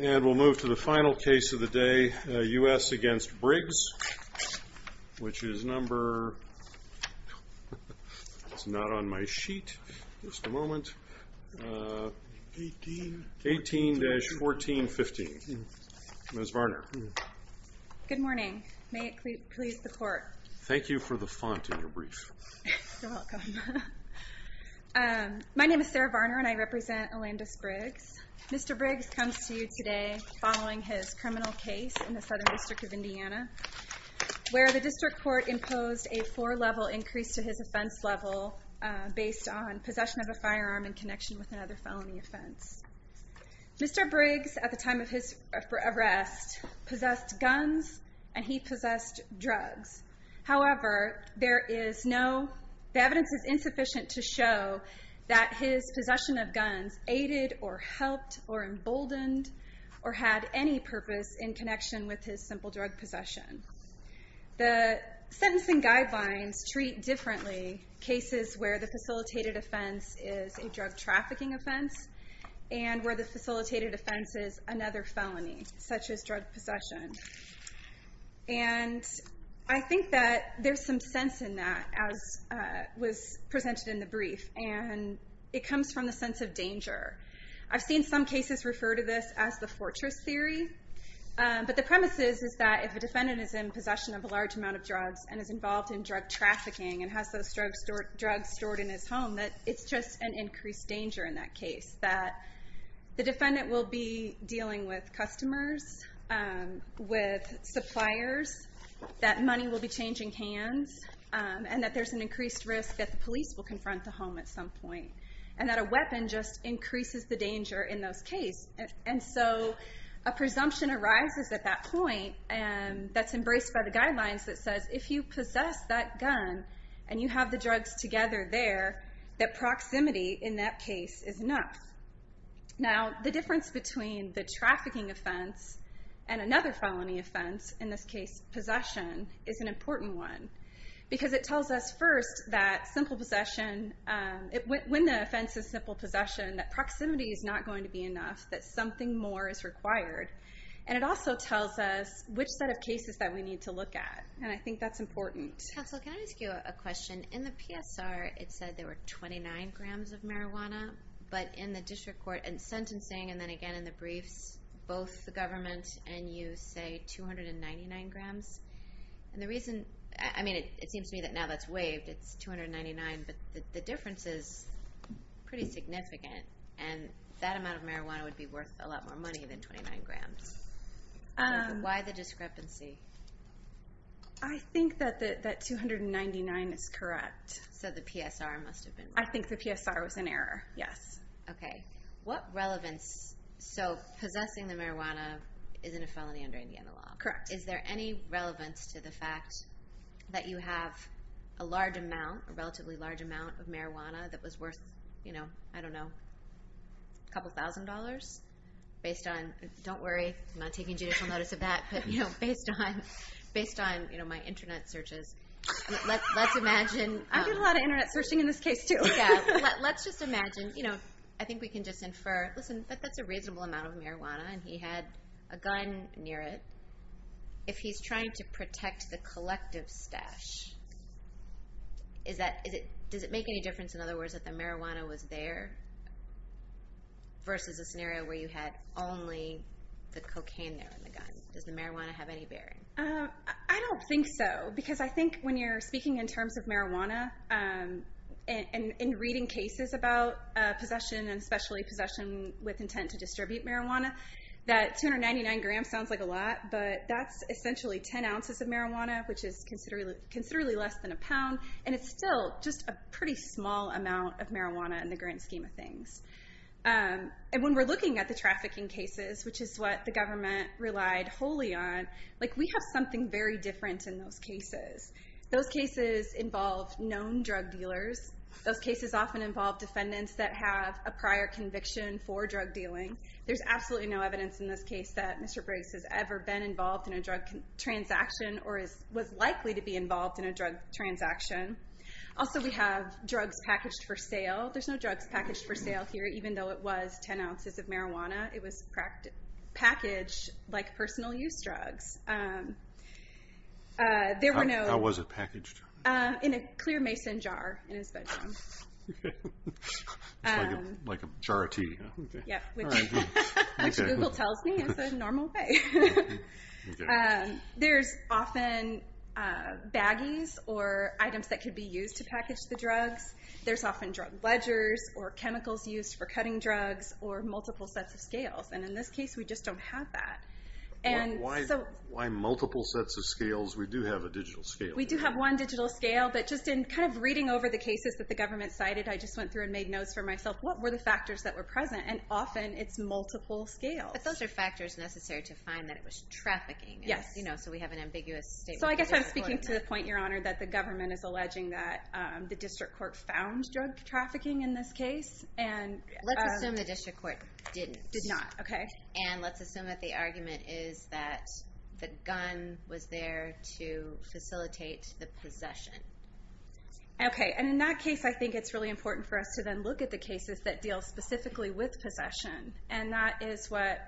And we'll move to the final case of the day, U.S. v. Briggs, which is number 18-1415. Ms. Varner. Good morning. May it please the court. Thank you for the font in your brief. You're My name is Sarah Varner and I represent Alandous Briggs. Mr. Briggs comes to you today following his criminal case in the Southern District of Indiana, where the district court imposed a four-level increase to his offense level based on possession of a firearm in connection with another felony offense. Mr. Briggs, at the time of his arrest, possessed guns and he possessed drugs. However, there is no The evidence is insufficient to show that his possession of guns aided or helped or emboldened or had any purpose in connection with his simple drug possession. The sentencing guidelines treat differently cases where the facilitated offense is a drug trafficking offense and where the facilitated offense is another felony, such as drug possession. And I think that there's some sense in that, as was presented in the brief, and it comes from the sense of danger. I've seen some cases refer to this as the fortress theory, but the premise is that if a defendant is in possession of a large amount of drugs and is involved in drug trafficking and has those drugs stored in his home, that it's just an increased danger in that case, that the defendant will be dealing with customers, with suppliers, that money will be changing hands, and that there's an increased risk that the police will confront the home at some point, and that a weapon just increases the danger in those cases. And so a presumption arises at that point that's embraced by the guidelines that says if you possess that gun and you have the drugs together there, that proximity in that case is enough. Now, the difference between the trafficking offense and another felony offense, in this case possession, is an important one, because it tells us first that when the offense is simple possession, that proximity is not going to be enough, that something more is required. And it also tells us which set of cases that we need to look at, and I think that's important. Counsel, can I ask you a question? In the PSR, it said there were 29 grams of marijuana, but in the district court, and sentencing and then again in the briefs, both the government and you say 299 grams. And the reason, I mean, it seems to me that now that's waived, it's 299, but the difference is pretty significant, and that amount of marijuana would be worth a lot more money than 29 grams. Why the discrepancy? I think that 299 is correct. So the PSR must have been wrong. I think the PSR was an error, yes. Okay. What relevance, so possessing the marijuana isn't a felony under Indiana law. Correct. Is there any relevance to the fact that you have a large amount, a relatively large amount of marijuana that was worth, you know, I don't know, a couple thousand dollars based on, don't worry, I'm not taking judicial notice of that, but based on my internet searches, let's imagine. I do a lot of internet searching in this case, too. Yeah. Let's just imagine, you know, I think we can just infer, listen, that's a reasonable amount of marijuana, and he had a gun near it. If he's trying to protect the collective stash, does it make any difference, in other words, that the marijuana was there versus a scenario where you had only the cocaine there in the gun? Does the marijuana have any bearing? I don't think so because I think when you're speaking in terms of marijuana and reading cases about possession and especially possession with intent to distribute marijuana, that 299 grams sounds like a lot, but that's essentially 10 ounces of marijuana, which is considerably less than a pound, and it's still just a pretty small amount of marijuana in the grand scheme of things. And when we're looking at the trafficking cases, which is what the government relied wholly on, we have something very different in those cases. Those cases involve known drug dealers. Those cases often involve defendants that have a prior conviction for drug dealing. There's absolutely no evidence in this case that Mr. Briggs has ever been involved in a drug transaction or was likely to be involved in a drug transaction. Also, we have drugs packaged for sale. There's no drugs packaged for sale here, even though it was 10 ounces of marijuana. It was packaged like personal use drugs. How was it packaged? In a clear mason jar in his bedroom. Like a jar of tea? Yep, which Google tells me is the normal way. There's often baggies or items that could be used to package the drugs. There's often drug ledgers or chemicals used for cutting drugs or multiple sets of scales, and in this case, we just don't have that. Why multiple sets of scales? We do have a digital scale. We do have one digital scale, but just in kind of reading over the cases that the government cited, I just went through and made notes for myself what were the factors that were present, and often it's multiple scales. But those are factors necessary to find that it was trafficking. Yes. So we have an ambiguous statement. So I guess I'm speaking to the point, Your Honor, that the government is alleging that the district court found drug trafficking in this case. Let's assume the district court didn't. Did not, okay. And let's assume that the argument is that the gun was there to facilitate the possession. Okay, and in that case, I think it's really important for us to then look at the cases that deal specifically with possession, and that is what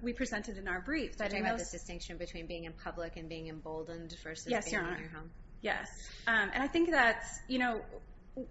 we presented in our brief. Talking about the distinction between being in public and being emboldened versus being in your home. Yes, Your Honor. Yes. And I think that's, you know,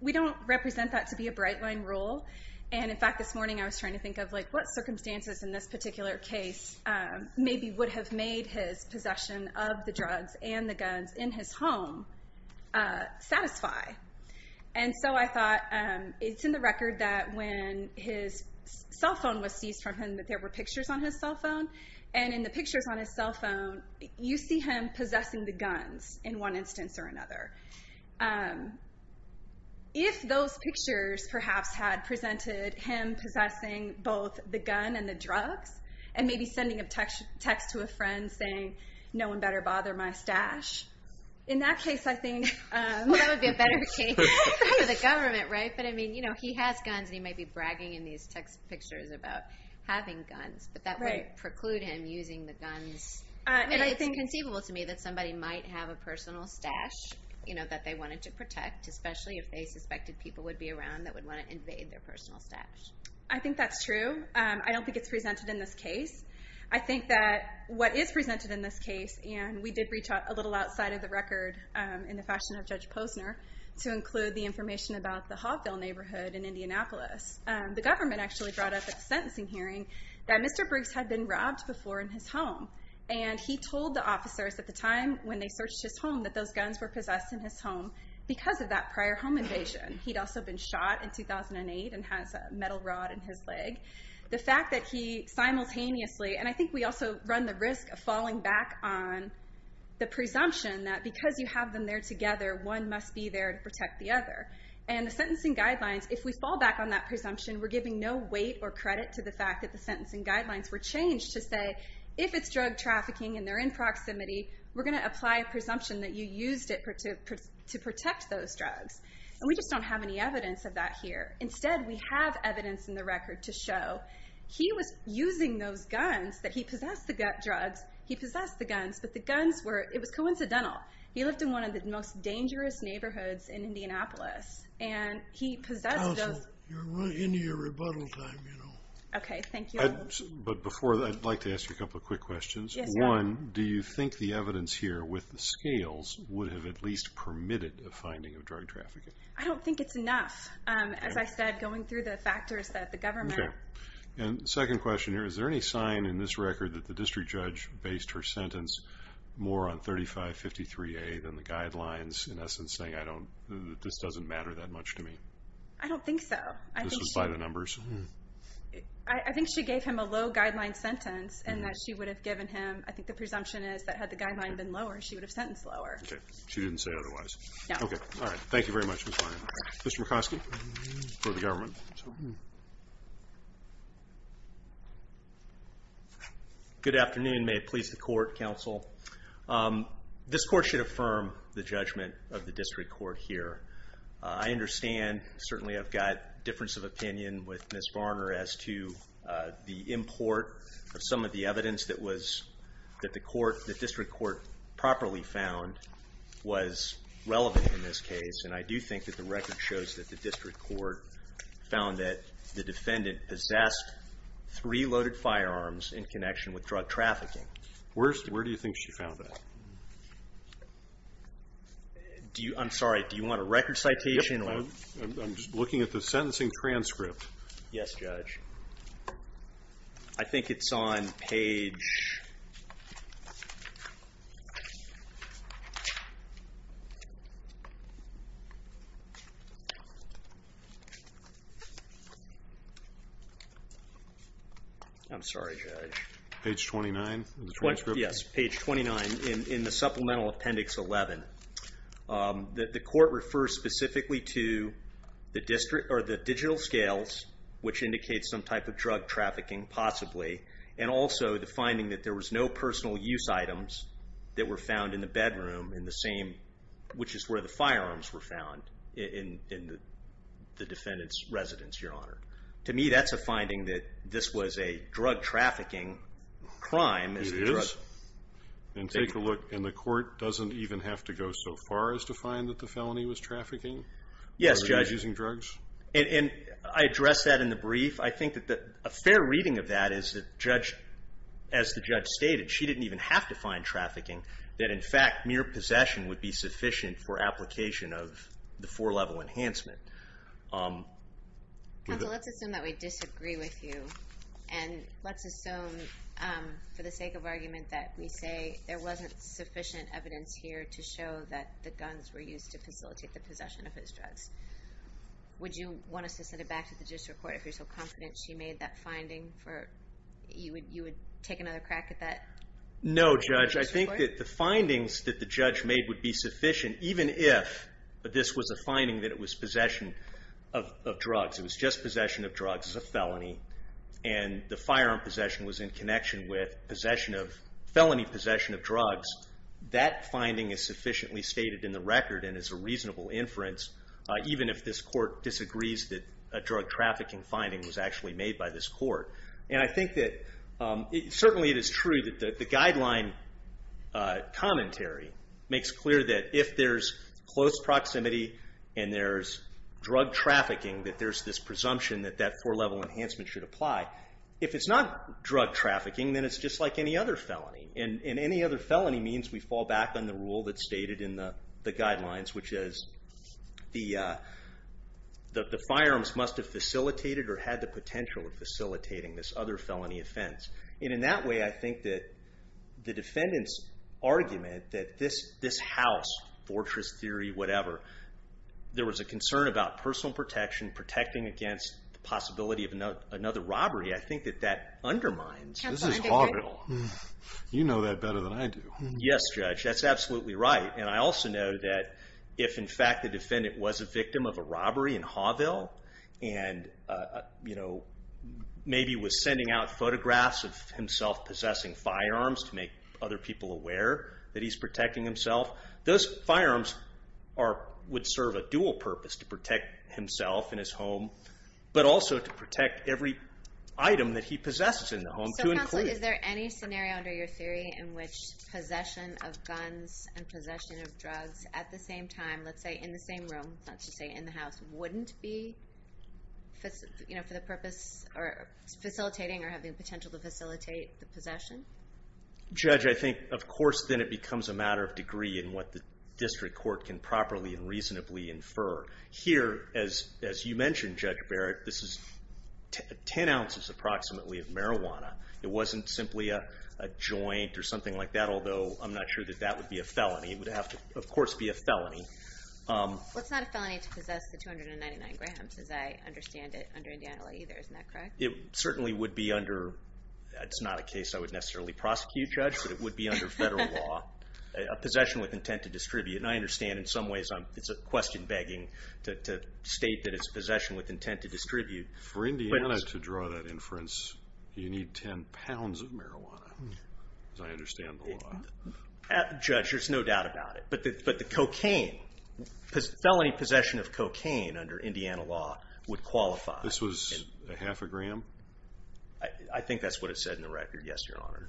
we don't represent that to be a bright-line rule. And, in fact, this morning I was trying to think of, like, what circumstances in this particular case maybe would have made his possession of the drugs and the guns in his home satisfy. And so I thought, it's in the record that when his cell phone was seized from him that there were pictures on his cell phone. And in the pictures on his cell phone, you see him possessing the guns in one instance or another. If those pictures perhaps had presented him possessing both the gun and the drugs, and maybe sending a text to a friend saying, no one better bother my stash, in that case I think... Well, that would be a better case for the government, right? But, I mean, you know, he has guns, and he might be bragging in these text pictures about having guns. But that wouldn't preclude him using the guns. I mean, it's conceivable to me that somebody might have a personal stash, you know, that they wanted to protect, especially if they suspected people would be around that would want to invade their personal stash. I think that's true. I don't think it's presented in this case. I think that what is presented in this case, and we did reach out a little outside of the record in the fashion of Judge Posner to include the information about the Hobville neighborhood in Indianapolis. The government actually brought up at the sentencing hearing that Mr. Briggs had been robbed before in his home. And he told the officers at the time when they searched his home that those guns were possessed in his home because of that prior home invasion. He'd also been shot in 2008 and has a metal rod in his leg. The fact that he simultaneously, and I think we also run the risk of falling back on the presumption that because you have them there together, one must be there to protect the other. And the sentencing guidelines, if we fall back on that presumption, we're giving no weight or credit to the fact that the sentencing guidelines were changed to say if it's drug trafficking and they're in proximity, we're going to apply a presumption that you used it to protect those drugs. And we just don't have any evidence of that here. Instead, we have evidence in the record to show he was using those guns, that he possessed the drugs, he possessed the guns, but the guns were, it was coincidental. He lived in one of the most dangerous neighborhoods in Indianapolis, and he possessed those. Counsel, you're right into your rebuttal time, you know. Okay, thank you. But before, I'd like to ask you a couple of quick questions. Yes, go ahead. One, do you think the evidence here with the scales would have at least permitted a finding of drug trafficking? I don't think it's enough. As I said, going through the factors that the government... Okay. And second question here, is there any sign in this record that the district judge based her sentence more on 3553A than the guidelines, in essence saying this doesn't matter that much to me? I don't think so. This was by the numbers? I think she gave him a low-guideline sentence, and that she would have given him, I think the presumption is, that had the guideline been lower, she would have sentenced lower. Okay, she didn't say otherwise. No. Okay, all right. Thank you very much, Ms. Barnard. Mr. Murkowski for the government. Good afternoon. May it please the Court, Counsel. This Court should affirm the judgment of the district court here. I understand, certainly I've got difference of opinion with Ms. Barnard as to the import of some of the evidence that the court, the district court properly found was relevant in this case, and I do think that the record shows that the district court found that the defendant possessed three loaded firearms in connection with drug trafficking. Where do you think she found that? I'm sorry, do you want a record citation? I'm just looking at the sentencing transcript. Yes, Judge. I think it's on page 29 in the supplemental appendix 11. The court refers specifically to the digital scales, which indicates some type of drug trafficking possibly, and also the finding that there was no personal use items that were found in the bedroom in the same, which is where the firearms were found, in the defendant's residence, Your Honor. To me, that's a finding that this was a drug trafficking crime. It is. And take a look, and the court doesn't even have to go so far as to find that the felony was trafficking? Yes, Judge. Using drugs? And I addressed that in the brief. I think that a fair reading of that is that, as the judge stated, she didn't even have to find trafficking, that in fact mere possession would be sufficient for application of the four-level enhancement. Counsel, let's assume that we disagree with you, and let's assume for the sake of argument that we say there wasn't sufficient evidence here to show that the guns were used to facilitate the possession of his drugs. Would you want us to send it back to the district court if you're so confident she made that finding? You would take another crack at that? No, Judge. I think that the findings that the judge made would be sufficient, even if this was a finding that it was possession of drugs. It was just possession of drugs as a felony, and the firearm possession was in connection with felony possession of drugs. That finding is sufficiently stated in the record and is a reasonable inference, even if this court disagrees that a drug trafficking finding was actually made by this court. And I think that certainly it is true that the guideline commentary makes clear that if there's close proximity and there's drug trafficking, that there's this presumption that that four-level enhancement should apply. If it's not drug trafficking, then it's just like any other felony. And any other felony means we fall back on the rule that's stated in the guidelines, which is the firearms must have facilitated or had the potential of facilitating this other felony offense. And in that way, I think that the defendant's argument that this house, fortress theory, whatever, there was a concern about personal protection, protecting against the possibility of another robbery, I think that that undermines. This is Hawville. You know that better than I do. Yes, Judge. That's absolutely right. And I also know that if, in fact, the defendant was a victim of a robbery in Hawville and maybe was sending out photographs of himself possessing firearms to make other people aware that he's protecting himself, those firearms would serve a dual purpose to protect himself and his home, but also to protect every item that he possesses in the home to include. So, Counsel, is there any scenario under your theory in which possession of guns and possession of drugs at the same time, let's say in the same room, not to say in the house, wouldn't be for the purpose or facilitating or having potential to facilitate the possession? Judge, I think, of course, then it becomes a matter of degree in what the district court can properly and reasonably infer. Here, as you mentioned, Judge Barrett, this is 10 ounces approximately of marijuana. It wasn't simply a joint or something like that, although I'm not sure that that would be a felony. It would have to, of course, be a felony. Well, it's not a felony to possess the 299 grams, as I understand it, under Indiana law either. Isn't that correct? It certainly would be under. It's not a case I would necessarily prosecute, Judge, but it would be under federal law. A possession with intent to distribute. I understand in some ways it's a question begging to state that it's a possession with intent to distribute. For Indiana to draw that inference, you need 10 pounds of marijuana, as I understand the law. Judge, there's no doubt about it, but the cocaine, felony possession of cocaine under Indiana law would qualify. This was a half a gram? I think that's what it said in the record, yes, Your Honor.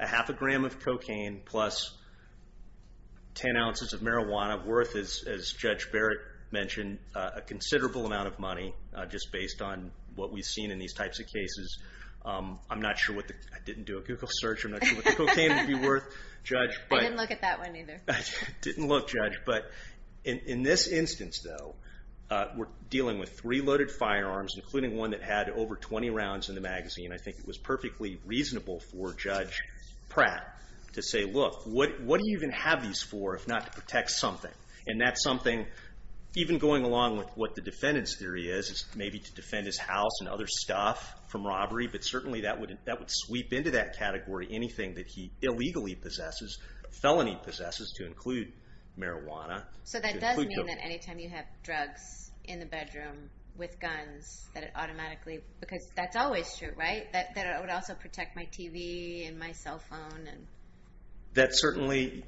A half a gram of cocaine plus 10 ounces of marijuana worth, as Judge Barrett mentioned, a considerable amount of money, just based on what we've seen in these types of cases. I didn't do a Google search. I'm not sure what the cocaine would be worth, Judge. I didn't look at that one either. Didn't look, Judge. In this instance, though, we're dealing with three loaded firearms, including one that had over 20 rounds in the magazine. I think it was perfectly reasonable for Judge Pratt to say, look, what do you even have these for if not to protect something? That's something, even going along with what the defendant's theory is, is maybe to defend his house and other stuff from robbery, but certainly that would sweep into that category anything that he illegally possesses, felony possesses, to include marijuana. That does mean that any time you have drugs in the bedroom with guns, that it automatically, because that's always true, right? That it would also protect my TV and my cell phone. That certainly,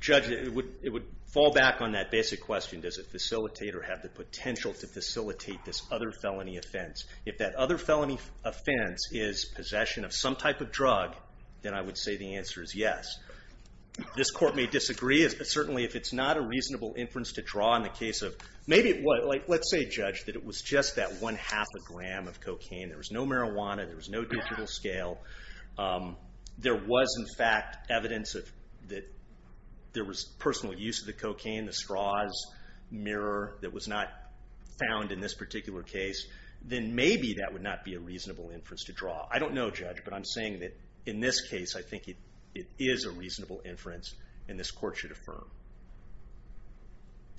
Judge, it would fall back on that basic question, does it facilitate or have the potential to facilitate this other felony offense? If that other felony offense is possession of some type of drug, then I would say the answer is yes. This court may disagree. Certainly if it's not a reasonable inference to draw in the case of, let's say, Judge, that it was just that one half a gram of cocaine. There was no marijuana. There was no digital scale. There was, in fact, evidence that there was personal use of the cocaine, the straws, mirror that was not found in this particular case. Then maybe that would not be a reasonable inference to draw. I don't know, Judge, but I'm saying that in this case, I think it is a reasonable inference and this court should affirm.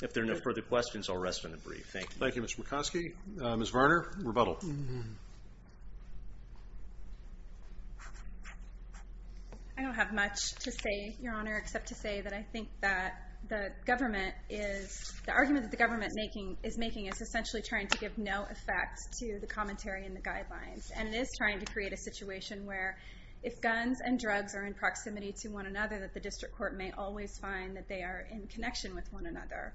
If there are no further questions, I'll rest on the brief. Thank you. Thank you, Mr. McCoskey. Ms. Varner, rebuttal. I don't have much to say, Your Honor, except to say that I think that the argument that the government is making is essentially trying to give no effect to the commentary and the guidelines, and it is trying to create a situation where if guns and drugs are in proximity to one another, that the district court may always find that they are in connection with one another.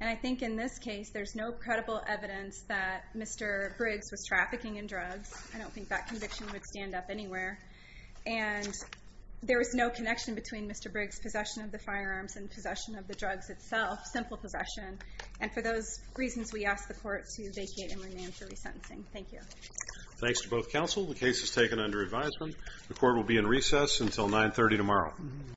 And I think in this case, there's no credible evidence that Mr. Briggs was trafficking in drugs. I don't think that conviction would stand up anywhere. And there is no connection between Mr. Briggs' possession of the firearms and possession of the drugs itself, simple possession. And for those reasons, we ask the court to vacate and remain for resentencing. Thank you. Thanks to both counsel. The case is taken under advisement. The court will be in recess until 930 tomorrow.